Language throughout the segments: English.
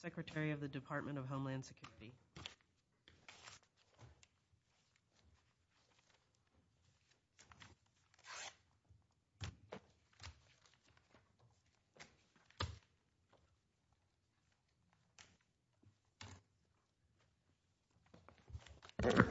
Secretary, Department of Homeland Security Next item,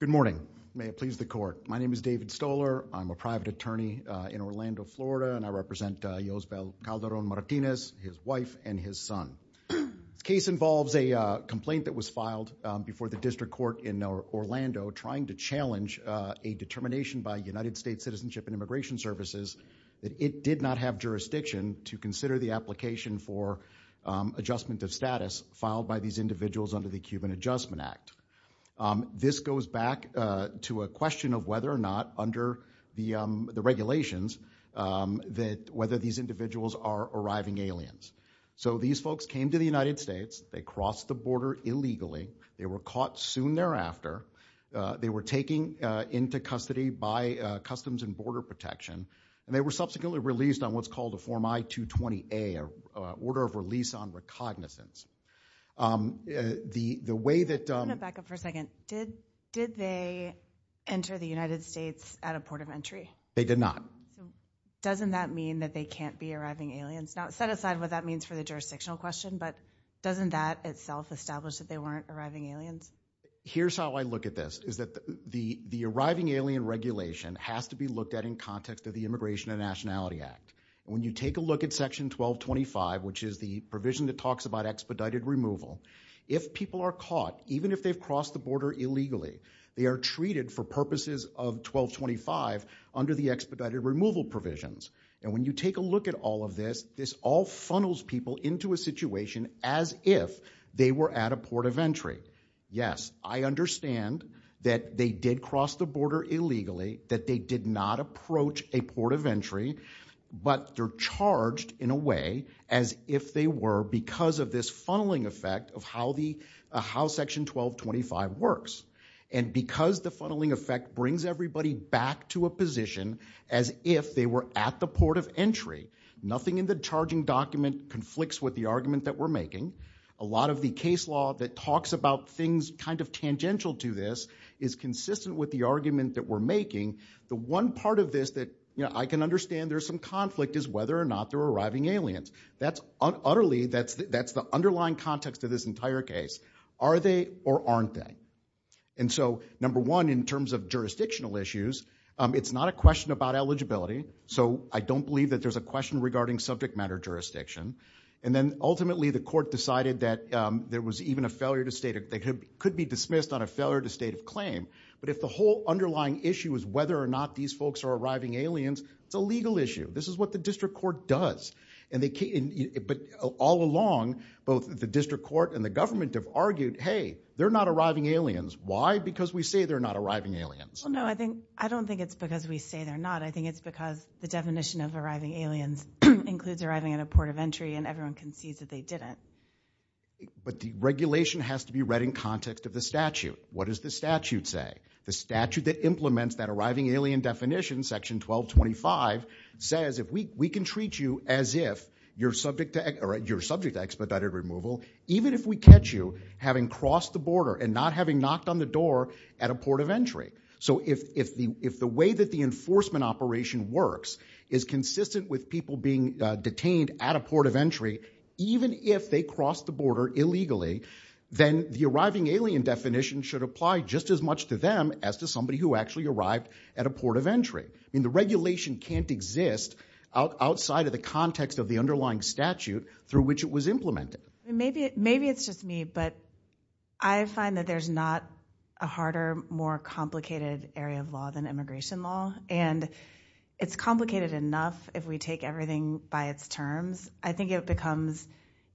Good morning. May it please the court. My name is David Stoller. I'm a private attorney in Orlando, Florida, and I represent Yosbel Calderon-Martinez, his wife and his son. The case involves a complaint that was filed before the district court in Orlando, trying to challenge a determination by United States Citizenship and Immigration Services that it did not have jurisdiction to consider the application for adjustment of status filed by these individuals under the Cuban Adjustment Act. This goes back to a question of whether or not, under the regulations, that whether these individuals are arriving aliens. So these folks came to the United States, they crossed the border illegally, they were caught soon thereafter, they were taken into custody by Customs and Border Protection, and they were subsequently released on what's called a Form I-220A, an order of release on recognizance. The way that – Let me back up for a second. Did they enter the United States at a port of entry? They did not. Doesn't that mean that they can't be arriving aliens? Now, set aside what that means for the jurisdictional question, but doesn't that itself establish that they weren't arriving aliens? Here's how I look at this, is that the arriving alien regulation has to be looked at in context of the Immigration and Nationality Act. When you take a look at Section 1225, which is the provision that talks about expedited removal, if people are caught, even if they've crossed the border illegally, they are treated for purposes of 1225 under the expedited removal provisions. And when you take a look at all of this, this all funnels people into a situation as if they were at a port of entry. Yes, I understand that they did cross the border illegally, that they did not approach a port of entry, but they're charged in a way as if they were because of this funneling effect of how Section 1225 works. And because the funneling effect brings everybody back to a position as if they were at the port of entry, nothing in the charging document conflicts with the argument that we're making. A lot of the case law that talks about things kind of tangential to this is consistent with the argument that we're making. The one part of this that I can understand there's some conflict is whether or not they're arriving aliens. That's utterly, that's the underlying context of this entire case. Are they or aren't they? And so, number one, in terms of jurisdictional issues, it's not a question about eligibility. So, I don't believe that there's a question regarding subject matter jurisdiction. And then, ultimately, the court decided that there was even a failure to state, they could be dismissed on a failure to state a claim. But if the whole underlying issue is whether or not these folks are arriving aliens, it's a legal issue. This is what the district court does. But all along, both the district court and the government have argued, hey, they're not arriving aliens. Why? Because we say they're not arriving aliens. Well, no, I think, I don't think it's because we say they're not. I think it's because the definition of arriving aliens includes arriving at a port of entry and everyone concedes that they didn't. But the regulation has to be read in context of the statute. What does the statute say? The statute that implements that arriving alien definition, section 1225, says if we can treat you as if you're subject to expedited removal, even if we catch you having crossed the border and not having knocked on the door at a port of entry. So if, if the, if the way that the enforcement operation works is consistent with people being detained at a port of entry, even if they crossed the border illegally, then the arriving alien definition should apply just as much to them as to somebody who actually arrived at a port of entry. I mean, the regulation can't exist outside of the context of the underlying statute through which it was implemented. Maybe, maybe it's just me, but I find that there's not a harder, more complicated area of law than immigration law. And it's complicated enough if we take everything by its terms. I think it becomes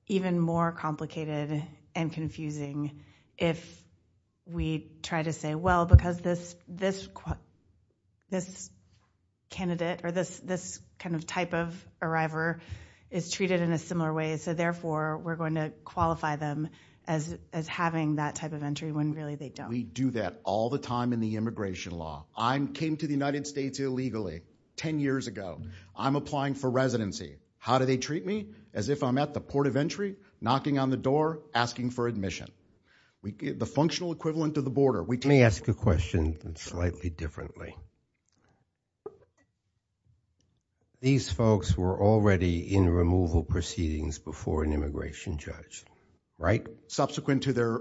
even more complicated and confusing if we try to say, well, because this, this, this candidate or this, this kind of type of arriver is treated in a similar way. So therefore we're going to qualify them as, as having that type of entry when really they don't. We do that all the time in the immigration law. I came to the United States illegally 10 years ago. I'm applying for residency. How do they treat me? As if I'm at the port of entry knocking on the door, asking for admission. We get the functional equivalent of the border. Let me ask a question slightly differently. These folks were already in removal proceedings before an immigration judge, right? Subsequent to their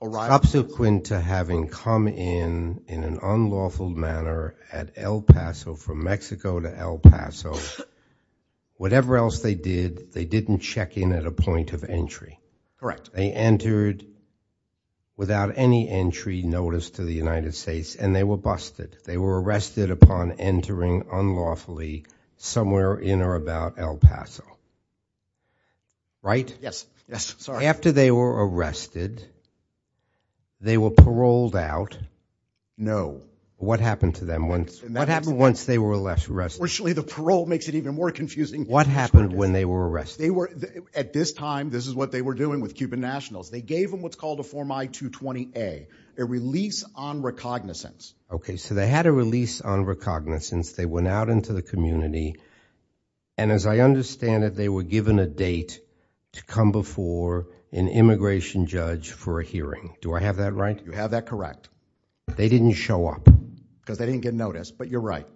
arrival. Subsequent to having come in, in an unlawful manner at El Paso, from Mexico to El Paso. Whatever else they did, they didn't check in at a point of entry. Correct. They entered without any entry notice to the United States and they were busted. They were arrested upon entering unlawfully somewhere in or about El Paso. Right? Yes. Yes. Sorry. After they were arrested, they were paroled out. No. What happened to them? What happened once they were arrested? The parole makes it even more confusing. What happened when they were arrested? At this time, this is what they were doing with Cuban nationals. They gave them what's called a Form I-220-A, a release on recognizance. Okay. So they had a release on recognizance. They went out into the community and as I understand it, they were given a date to come before an immigration judge for a hearing. Do I have that right? You have that correct. They didn't show up. Because they didn't get notice, but you're right.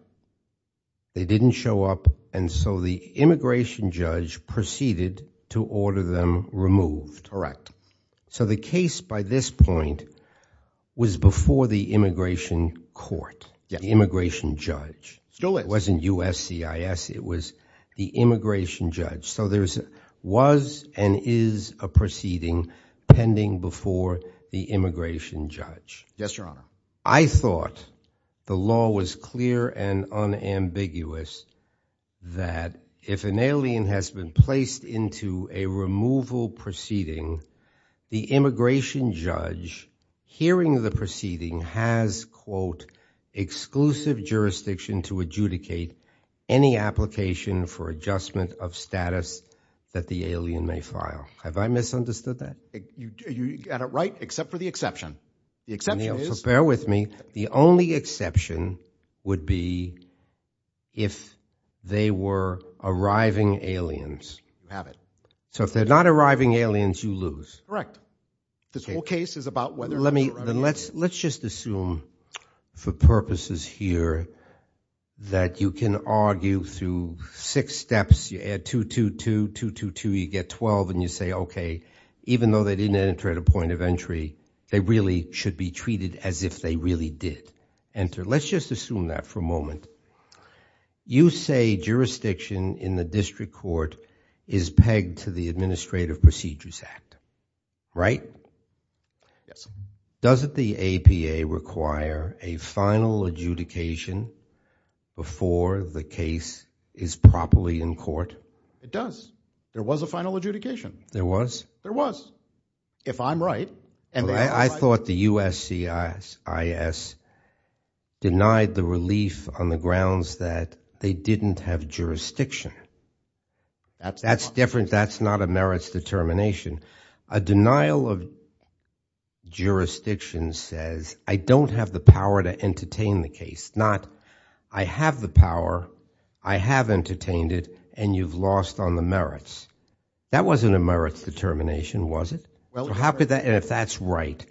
They didn't show up and so the immigration judge proceeded to order them removed. So the case by this point was before the immigration court. Yes. The immigration judge. Still is. It wasn't USCIS. It was the immigration judge. So there was and is a proceeding pending before the immigration judge. Yes, Your Honor. I thought the law was clear and unambiguous that if an alien has been placed into a removal proceeding, the immigration judge hearing the proceeding has, quote, exclusive jurisdiction to adjudicate any application for adjustment of status that the alien may file. Have I misunderstood that? You got it right, except for the exception. The exception is. So bear with me. The only exception would be if they were arriving aliens. You have it. So if they're not arriving aliens, you lose. Correct. This whole case is about whether or not they're arriving aliens. Let's just assume for purposes here that you can argue through six steps. You add 2, 2, 2. 2, 2, 2, you get 12 and you say, okay, even though they didn't enter at a point of entry, they really should be treated as if they really did enter. Let's just assume that for a moment. You say jurisdiction in the district court is pegged to the Administrative Procedures Act, right? Yes. Doesn't the APA require a final adjudication before the case is properly in court? It does. There was a final adjudication. There was? There was. If I'm right. I thought the USCIS denied the relief on the grounds that they didn't have jurisdiction. That's different. That's not a merits determination. A denial of jurisdiction says I don't have the power to entertain the case. Not I have the power. I have entertained it and you've lost on the merits. That wasn't a merits determination, was it? If that's right,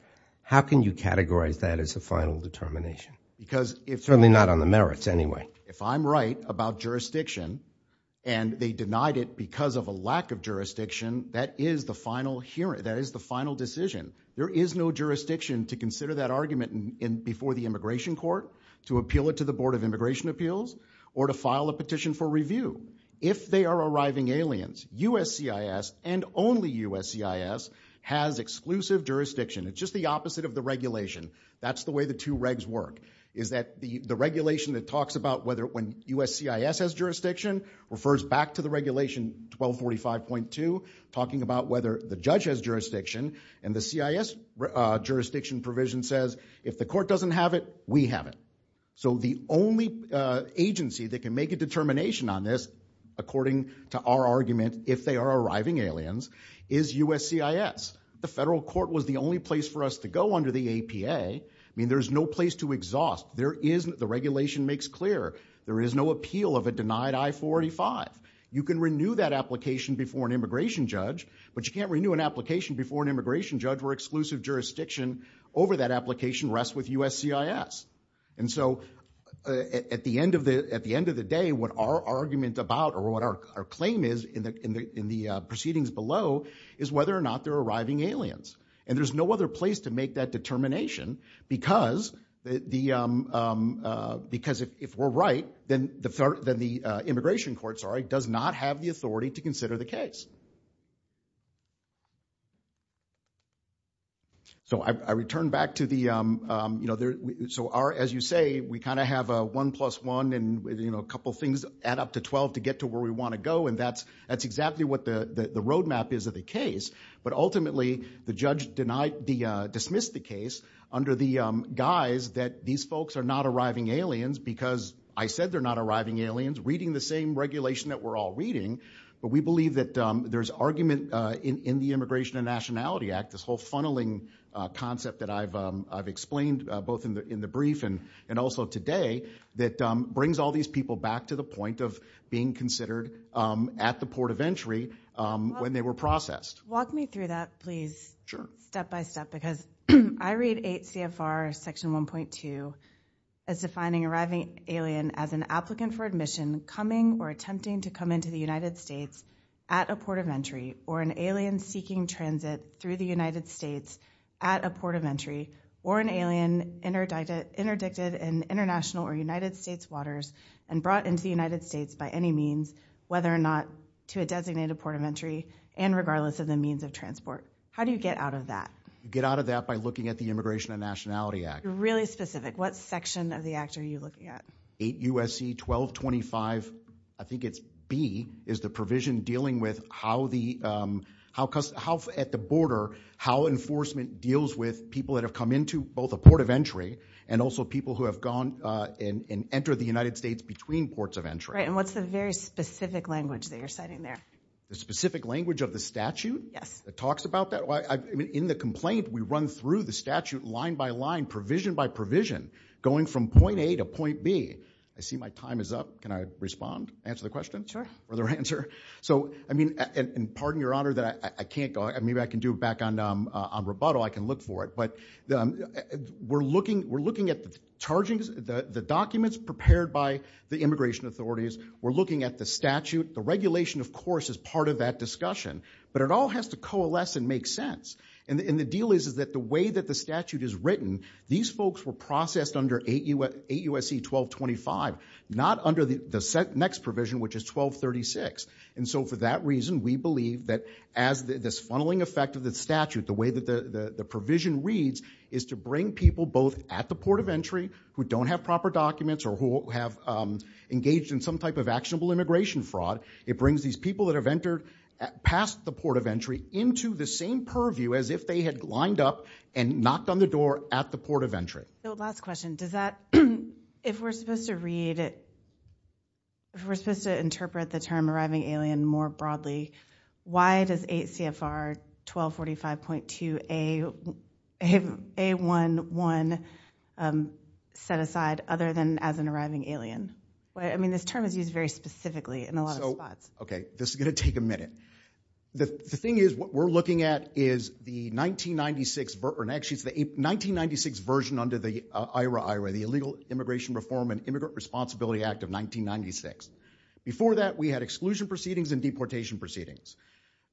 how can you categorize that as a final determination? Certainly not on the merits anyway. If I'm right about jurisdiction and they denied it because of a lack of jurisdiction, that is the final decision. There is no jurisdiction to consider that argument before the immigration court, to appeal it to the Board of Immigration Appeals or to file a petition for review. If they are arriving aliens, USCIS and only USCIS has exclusive jurisdiction. It's just the opposite of the regulation. That's the way the two regs work. The regulation that talks about whether when USCIS has jurisdiction refers back to the regulation 1245.2 talking about whether the judge has jurisdiction and the CIS jurisdiction provision says if the court doesn't have it, we have it. The only agency that can make a determination on this, according to our argument, if they are arriving aliens, is USCIS. The federal court was the only place for us to go under the APA. There's no place to exhaust. The regulation makes clear there is no appeal of a denied I-485. You can renew that application before an immigration judge, but you can't renew an application before an immigration judge where exclusive jurisdiction over that application rests with USCIS. At the end of the day, what our argument about or what our claim is in the proceedings below is whether or not they're arriving aliens. There's no other place to make that determination because if we're right, then the immigration court does not have the authority to consider the case. I return back to the... As you say, we have a 1 plus 1 and a couple things add up to 12 to get to where we want to go. That's exactly what the roadmap is of the case. Ultimately, the judge dismissed the case under the guise that these folks are not arriving aliens because I said they're not arriving aliens, reading the same regulation that we're all reading. We believe there's argument in the Immigration and Nationality Act, this whole funneling concept that I've explained both in the brief and also today that brings all these people back to the point of being considered at the port of entry when they were processed. Walk me through that, please, step by step. I read 8 CFR section 1.2 as defining arriving alien as an applicant for admission coming or attempting to come into the United States at a port of entry or an alien seeking transit through the United States at a port of entry or an alien interdicted in international or United States waters and brought into the United States by any means, whether or not to a designated port of entry and regardless of the means of transport. How do you get out of that? You get out of that by looking at the Immigration and Nationality Act. Really specific, what section of the act are you looking at? 8 USC 1225, I think it's B is the provision dealing with how at the border, how enforcement deals with people that have come into both a port of entry and also people who have gone and entered the United States between ports of entry. What's the very specific language that you're citing there? The specific language of the statute that talks about that? In the complaint, we run through the statute line by line provision by provision going from point A to point B I see my time is up. Can I respond? Answer the question? Pardon your honor, maybe I can do it back on rebuttal. I can look for it. We're looking at the documents prepared by the immigration authorities. We're looking at the statute. The regulation, of course, is part of that discussion. But it all has to coalesce and make sense. The deal is that the way that the statute is written these folks were processed under 8 USC 1225 not under the next provision which is 1236. So for that reason, we believe that as this funneling effect of the statute the way that the provision reads is to bring people both at the port of entry who don't have proper documents or who have engaged in some type of actionable immigration fraud. It brings these people that have entered past the port of entry into the same purview as if they had lined up and knocked on the door at the port of entry. Last question, does that if we're supposed to read if we're supposed to interpret the term arriving alien more broadly why does 8 CFR 1245.2 A11 set aside other than as an arriving alien? I mean this term is used very specifically in a lot of spots. Okay, this is going to take a minute. The thing is what we're looking at is the 1996 version under the IRA, the illegal immigration reform and immigrant responsibility act of 1996. Before that we had exclusion proceedings and deportation proceedings.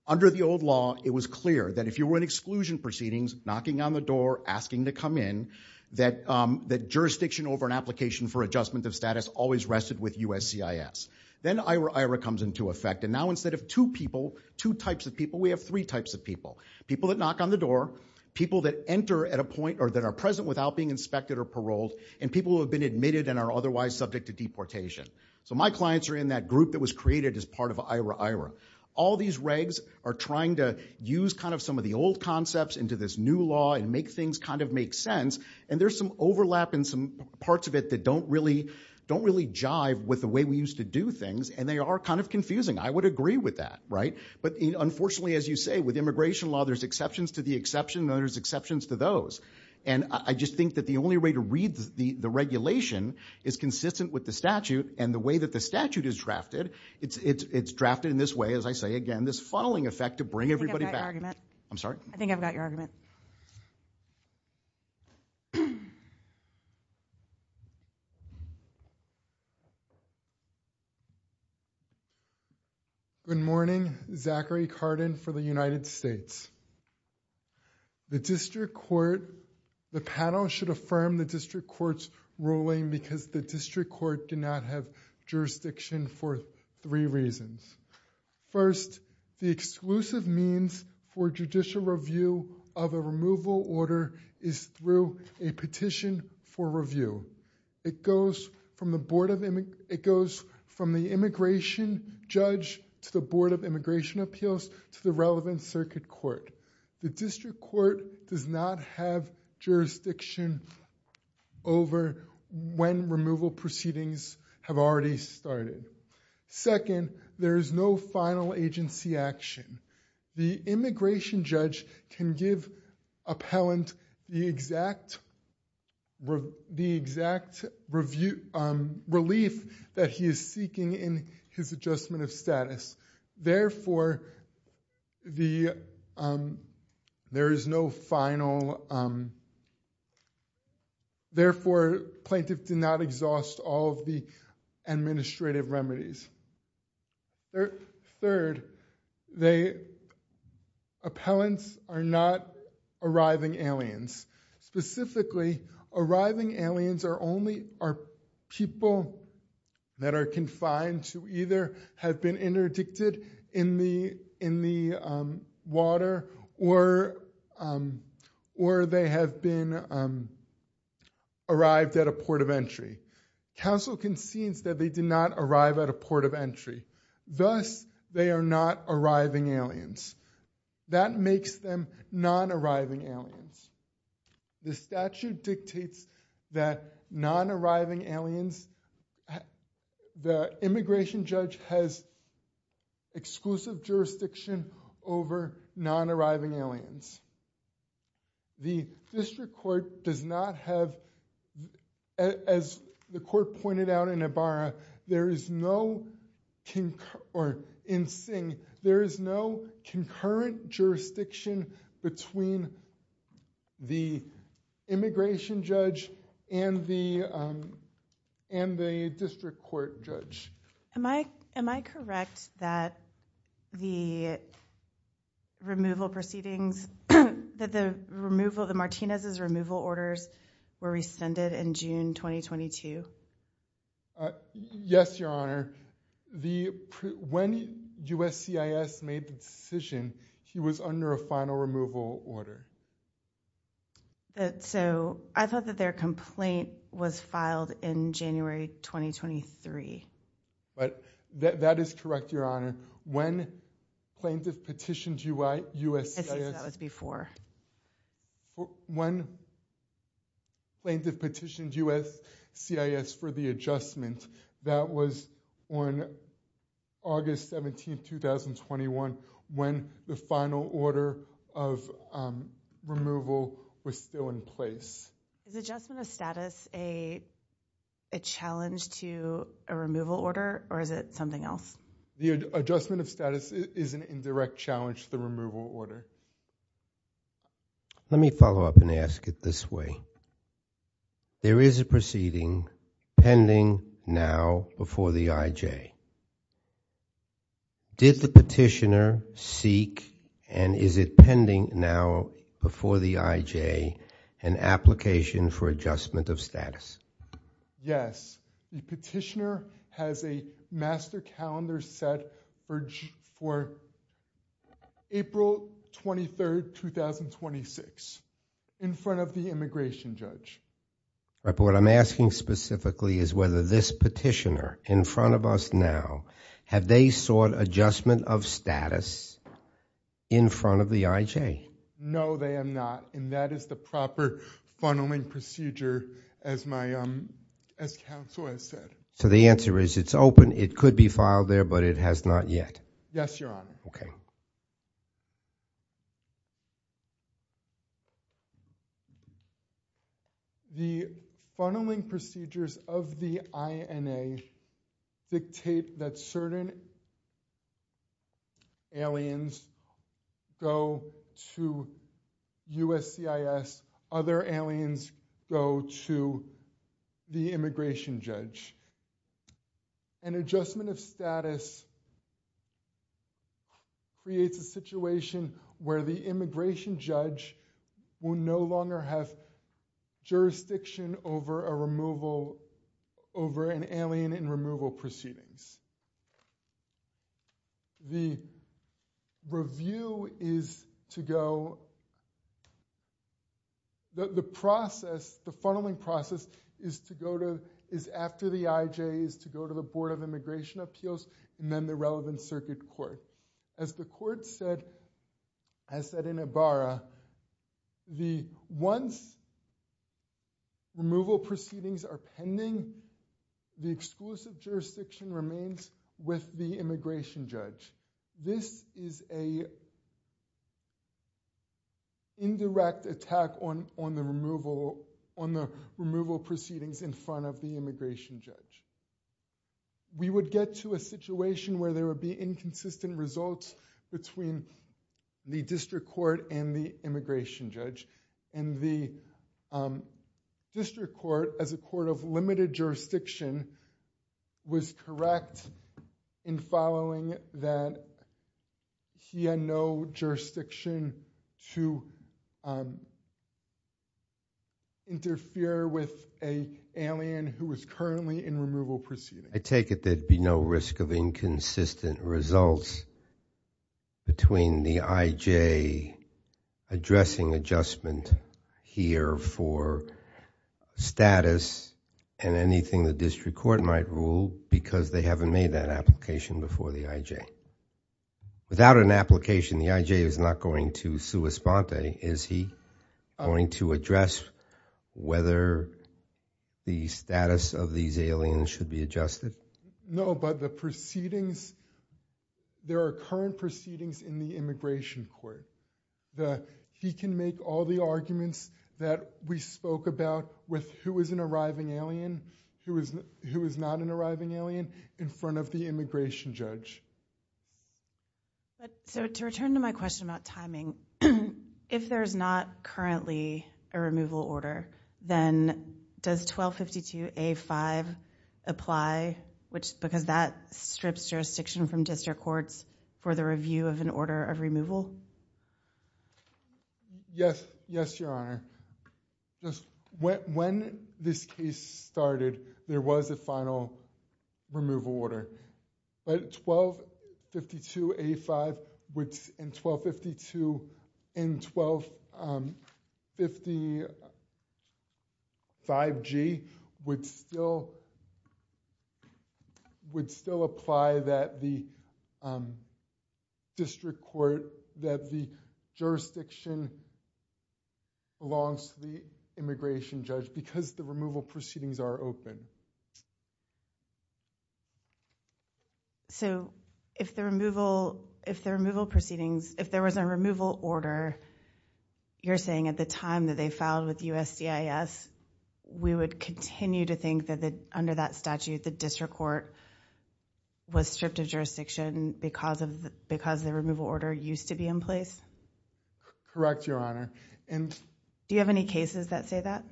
Under the old law it was clear that if you were in exclusion proceedings, knocking on the door, asking to come in that jurisdiction over an application for adjustment of status always rested with USCIS. Then IRA IRA comes into effect and now instead of two people two types of people we have three types of people. People that knock on the door, people that enter at a point or that are present without being inspected or paroled and people who have been admitted and are otherwise subject to deportation. So my clients are in that group that was created as part of IRA IRA. All these regs are trying to use kind of some of the old concepts into this new law and make things kind of make sense and there's some overlap in some parts of it that don't really jive with the way we used to do things and they are kind of confusing. I would agree with that. But unfortunately as you say with immigration law there's exceptions to the exception and there's exceptions to those. I just think that the only way to read the regulation is consistent with the statute and the way that the statute is drafted, it's drafted in this way as I say again this funneling effect to bring everybody back. I think I've got your argument. Good morning. Zachary Carden for the United States. The district court the panel should affirm the district court's ruling because the district court did not have jurisdiction for three reasons. First the exclusive means for judicial review of a removal order is through a petition for review. It goes from the immigration judge to the board of immigration appeals to the relevant circuit court. The district court does not have jurisdiction over when removal proceedings have already started. Second, there is no final agency action. The immigration judge can give appellant the exact the exact relief that he is seeking in his adjustment of status. Therefore there is no final therefore plaintiff did not exhaust all of the administrative remedies. Third appellants are not arriving aliens specifically arriving aliens are only people that are confined to either have been interdicted in the water or they have been arrived at a port of entry. Council concedes that they did not arrive at a port of entry. Thus they are not arriving aliens. That makes them non-arriving aliens. The statute dictates that non-arriving aliens, the immigration judge has exclusive jurisdiction over non-arriving aliens. The district court does not have as the court pointed out in Ibarra there is no there is no concurrent jurisdiction between the immigration judge and the district court judge. Am I correct that the removal proceedings that the removal the Martinez's removal orders were rescinded in June 2022? Yes your honor the when USCIS made the decision he was under a final removal order. So I thought that their complaint was filed in January 2023. That is correct your honor. When plaintiff petitioned USCIS that was before. When plaintiff petitioned USCIS for the adjustment that was on August 17, 2021 when the final order of removal was still in place. Is adjustment of status a challenge to a removal order or is it an indirect challenge to the removal order? Let me follow up and ask it this way. There is a proceeding pending now before the IJ. Did the petitioner seek and is it pending now before the IJ an application for adjustment of status? Yes the petitioner has a master calendar set for April 23, 2026 in front of the immigration judge. But what I'm asking specifically is whether this petitioner in front of us now have they sought adjustment of status in front of the IJ? No they have not and that is the proper procedure as my counsel has said. So the answer is it's open. It could be filed there but it has not yet. Yes your honor. The funneling procedures of the INA dictate that certain aliens go to USCIS other aliens go to the immigration judge. An adjustment of status creates a situation where the immigration judge will no longer have jurisdiction over an alien in removal proceedings. The review is to go the process the funneling process is to go to is after the IJ is to go to the board of immigration appeals and then the relevant circuit court. As the court said once removal proceedings are pending the exclusive jurisdiction remains with the immigration judge. This is a indirect attack on the removal proceedings in front of the immigration judge. We would get to a situation where there would be inconsistent results between the district court and the immigration judge and the district court as a court of limited jurisdiction was correct in following that he had no jurisdiction to interfere with an alien who was currently in removal proceedings. I take it there would be no risk of inconsistent results between the IJ addressing adjustment here for status and anything the district court might rule because they haven't made that application before the IJ. Without an application the IJ is not going to sue Esponte. Is he going to address whether the status of these aliens should be adjusted? No, but the proceedings there are current proceedings in the immigration court. He can make all the arguments that we spoke about with who is an arriving alien, who is not an arriving alien in front of the immigration judge. To return to my question about timing if there is not currently a removal order then does 1252 A5 apply because that strips jurisdiction from district courts for the review of an order of removal? Yes, Your Honor. When this case started there was a final removal order. But 1252 A5 and 1252 and 1255 G would still apply that the district court that the jurisdiction belongs to the immigration judge because the removal proceedings are open. So if the removal proceedings, if there was a removal order you're saying at the time that they filed with USCIS we would continue to think that under that statute the district court was stripped of jurisdiction because the removal order used to be in place? Correct, Your Honor. Do you have any cases that say that?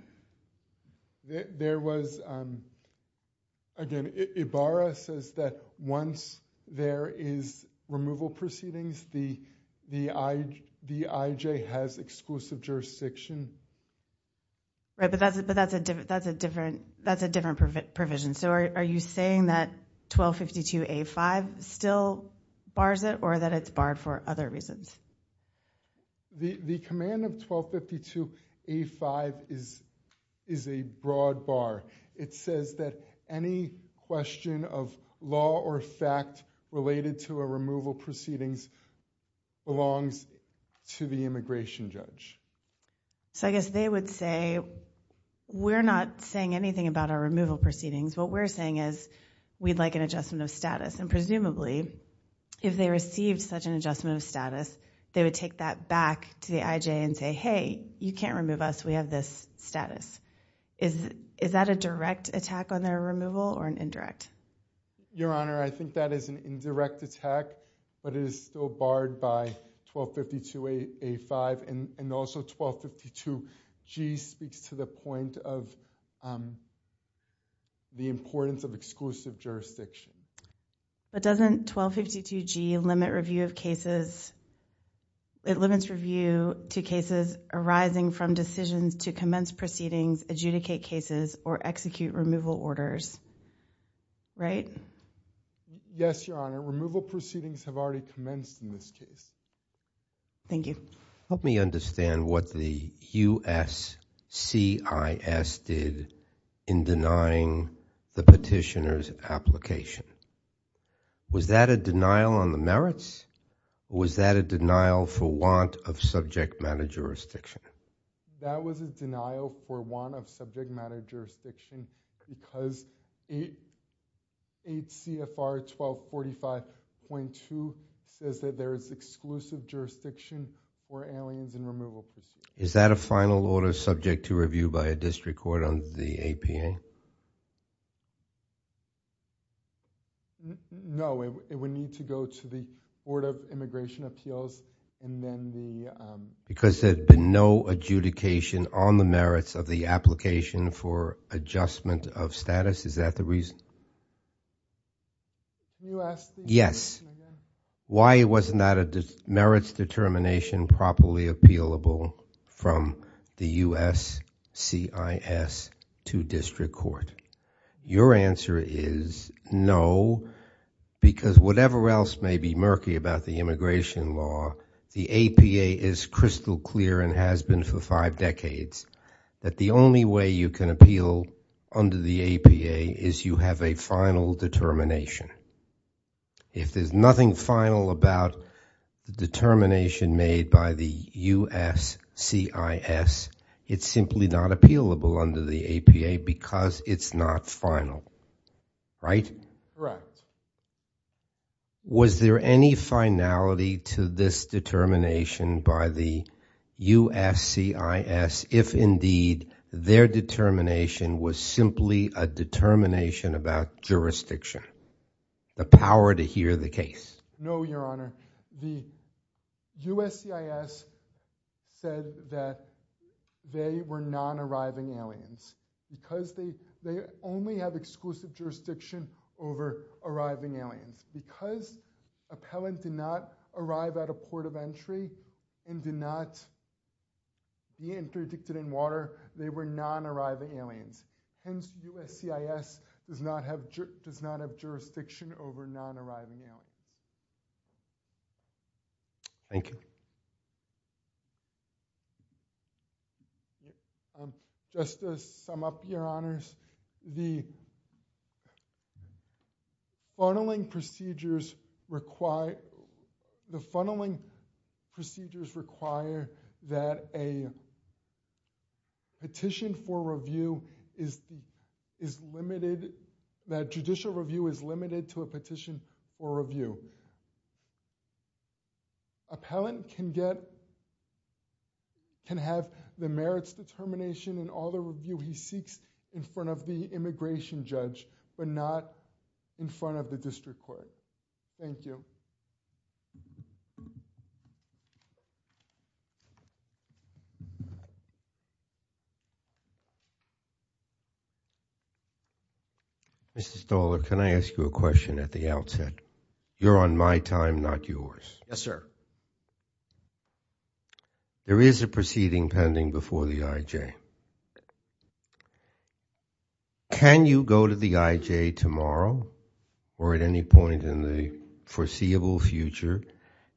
Again, Ibarra says that once there is removal proceedings the IJ has exclusive jurisdiction. But that's a different provision. So are you saying that 1252 A5 still bars it or that it's barred for other reasons? The command of 1252 A5 is a broad bar. It says that any question of law or fact related to a removal proceedings belongs to the immigration judge. So I guess they would say we're not saying anything about our removal proceedings what we're saying is we'd like an adjustment of status and presumably if they received such an adjustment of status they would take that back to the IJ and say hey you can't remove us we have this status. Is that a direct attack on their removal or an indirect? Your Honor I think that is an indirect attack but it is still barred by 1252 A5 and also 1252 G speaks to the point of the importance of exclusive jurisdiction. But doesn't 1252 G limit review of cases, it limits review to cases arising from decisions to commence proceedings, adjudicate cases or execute removal orders, right? Yes, Your Honor. Removal proceedings have already commenced in this case. Thank you. Help me understand what the USCIS did in denying the petitioner's application. Was that a denial on the merits or was that a denial for want of subject matter jurisdiction? That was a denial for want of subject matter jurisdiction because 8 CFR 1245.2 says that there is exclusive jurisdiction for aliens and removal proceedings. Is that a final order subject to review by a district court on the APA? No, it would need to go to the Board of Immigration Appeals and then the Because there had been no adjudication on the merits of the application for adjustment of status, is that the reason? Yes. Why wasn't that a merits determination properly appealable from the USCIS to district court? Your answer is no, because whatever else may be murky about the immigration law, the APA is crystal clear and has been for five decades that the only way you can appeal under the APA is you have a final determination. If there's nothing final about the determination made by the USCIS, it's simply not appealable under the APA because it's not final, right? Correct. Was there any finality to this determination by the USCIS if indeed their determination was simply a determination about jurisdiction? The power to hear the case? No, Your Honor. The USCIS said that they were non-arriving aliens because they only have exclusive jurisdiction over arriving aliens. Because appellant did not arrive at a port of entry and did not be interdicted in water, they were non-arriving aliens. Hence, USCIS does not have jurisdiction over non-arriving aliens. Thank you. Just to sum up, Your Honors, the funneling procedures require the funneling procedures require that a petition for review is limited, that judicial review is limited to a petition for review. Appellant can get can have the merits determination and all the review he seeks in front of the immigration judge but not in front of the district court. Thank you. Mr. Stoller, can I ask you a question at the outset? You're on my time, not yours. Yes, sir. There is a proceeding pending before the IJ. Can you go to the IJ tomorrow or at any point in the foreseeable future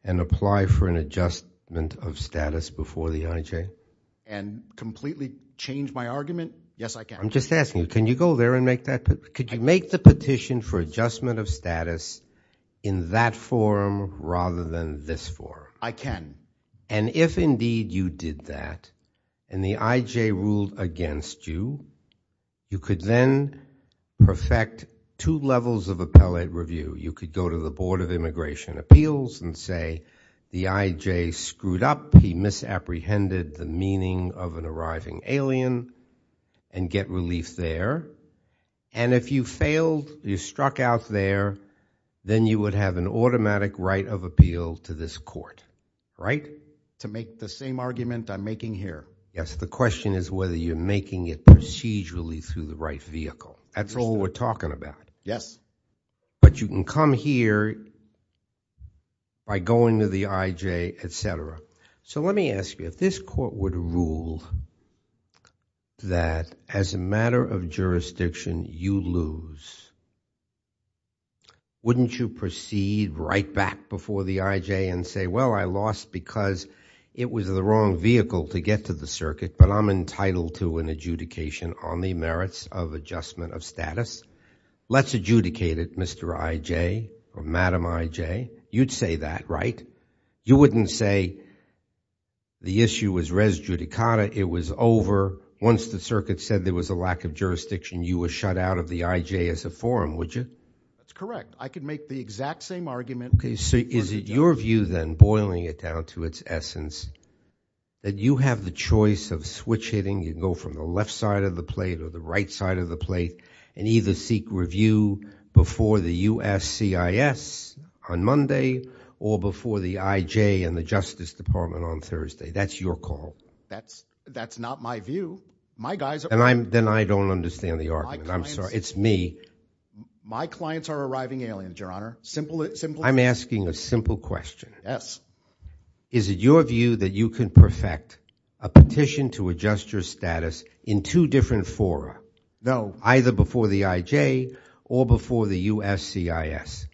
and apply for an adjustment of status before the IJ? And completely change my argument? Yes, I can. I'm just asking you, can you go there and make that could you make the petition for adjustment of status in that forum rather than this forum? I can. And if indeed you did that and the IJ ruled against you you could then perfect two levels of appellate review. You could go to the Board of Immigration Appeals and say the IJ screwed up, he misapprehended the meaning of an arriving alien and get relief there. And if you failed you struck out there, then you would have an automatic right of appeal to this court. Right? To make the same argument I'm making here? Yes, the question is whether you're making it procedurally through the right vehicle. That's all we're talking about. Yes. But you can come here by going to the IJ, etc. So let me ask you, if this court would rule that as a matter of jurisdiction you lose wouldn't you proceed right back before the IJ and say, well I lost because it was the wrong vehicle to get to the circuit but I'm entitled to an adjudication on the merits of adjustment of status. Let's adjudicate it Mr. IJ or Madam IJ. You'd say that, right? You wouldn't say the issue was res judicata it was over. Once the circuit said there was a lack of jurisdiction you were shut out of the IJ as a forum would you? That's correct. I could make the exact same argument So is it your view then, boiling it down to its essence, that you have the choice of switch hitting, you can go from the left side of the plate or the right side of the plate and either seek review before the USCIS on Monday or before the IJ and the Justice Department on Thursday. That's your call. That's not my view. My guys are My clients are arriving I'm asking a simple question Yes. Is it your view that you can perfect a petition to adjust your status in two different fora? No. Either before the IJ or before the USCIS?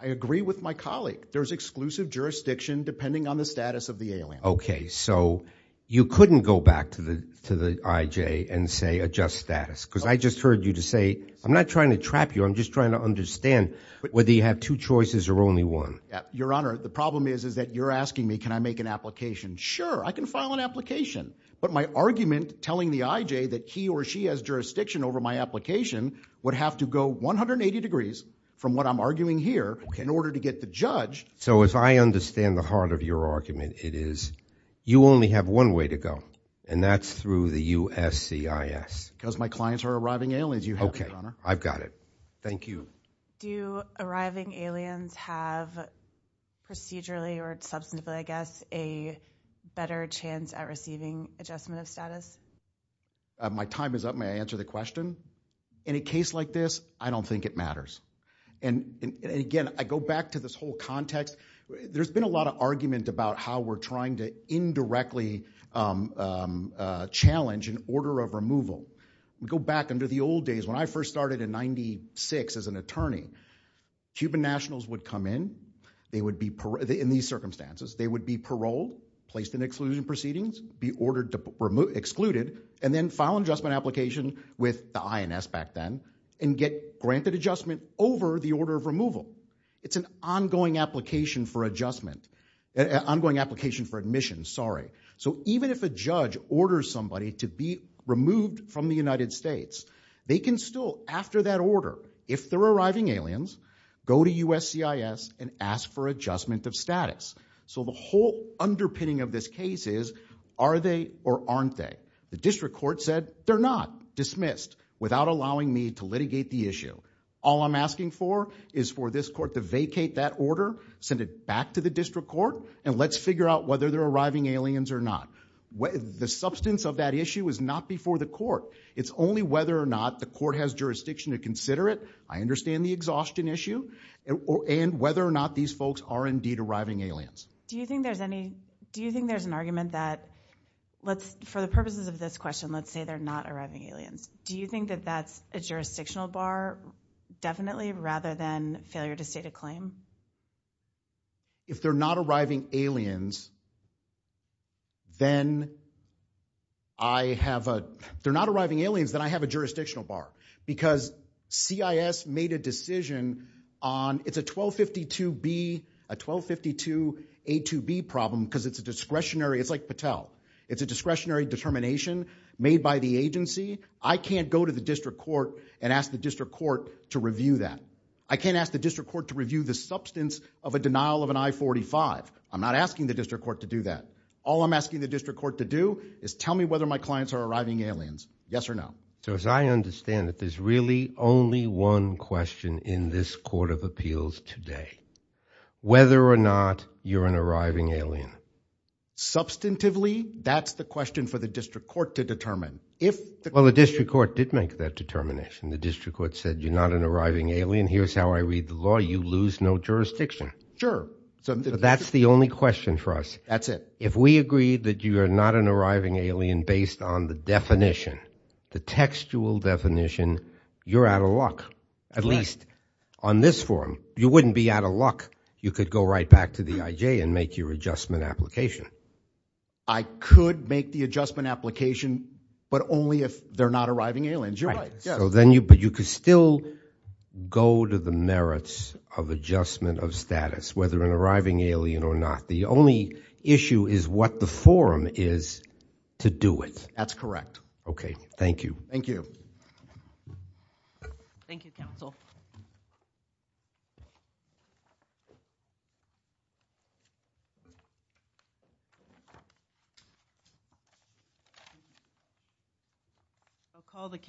I agree with my colleague. There's exclusive jurisdiction depending on the status of the alien. So you couldn't go back to the IJ and say adjust status because I just heard you say I'm not trying to trap you. I'm just trying to understand whether you have two choices or only one. Your Honor, the problem is that you're asking me can I make an application. Sure. I can file an application. But my argument telling the IJ that he or she has jurisdiction over my application would have to go 180 degrees from what I'm arguing here in order to get the judge. So if I understand the heart of your argument it is you only have one way to go and that's through the USCIS Because my clients are arriving aliens. I've got it. Thank you. Do arriving aliens have procedurally or substantively I guess a better chance at receiving adjustment of status? My time is up. May I answer the question? In a case like this, I don't think it matters. And again, I go back to this whole context. There's been a lot of argument about how we're trying to challenge an order of removal. We go back under the old days when I first started in 96 as an attorney. Cuban nationals would come in. In these circumstances they would be paroled, placed in exclusion proceedings be ordered to be excluded and then file an adjustment application with the INS back then and get granted adjustment over the order of removal. It's an ongoing application for adjustment. So even if a judge orders somebody to be removed from the United States, they can still after that order, if they're arriving aliens go to USCIS and ask for adjustment of status. So the whole underpinning of this case is are they or aren't they? The district court said they're not. Dismissed. Without allowing me to litigate the issue. All I'm asking for is for this court to vacate that order, send it back to the district court and let's figure out whether they're arriving aliens or not. The substance of that issue is not before the court. It's only whether or not the court has jurisdiction to consider it. I understand the exhaustion issue and whether or not these folks are indeed arriving aliens. Do you think there's any, do you think there's an argument that, for the purposes of this question, let's say they're not arriving aliens. Do you think that that's a jurisdictional bar definitely rather than a stated claim? If they're not arriving aliens, then I have a, if they're not arriving aliens, then I have a jurisdictional bar. Because CIS made a decision on, it's a 1252B, a 1252 A2B problem because it's a discretionary, it's like Patel. It's a discretionary determination made by the agency. I can't go to the district court and ask the court to review that. I can't ask the district court to review the substance of a denial of an I-45. I'm not asking the district court to do that. All I'm asking the district court to do is tell me whether my clients are arriving aliens. Yes or no? So as I understand it, there's really only one question in this court of appeals today. Whether or not you're an arriving alien. Substantively, that's the question for the district court to determine. Well, the district court did make that determination. The district court said you're not an arriving alien. Here's how I read the law. You lose no jurisdiction. Sure. That's the only question for us. That's it. If we agree that you're not an arriving alien based on the definition, the textual definition, you're out of luck. At least on this form. You wouldn't be out of luck. You could go right back to the IJ and make your adjustment application. I could make the adjustment application but only if they're not arriving aliens. You're right. But you could still go to the merits of adjustment of status, whether an arriving alien or not. The only issue is what the forum is to do with. That's correct. Okay. Thank you. Thank you. Thank you, counsel.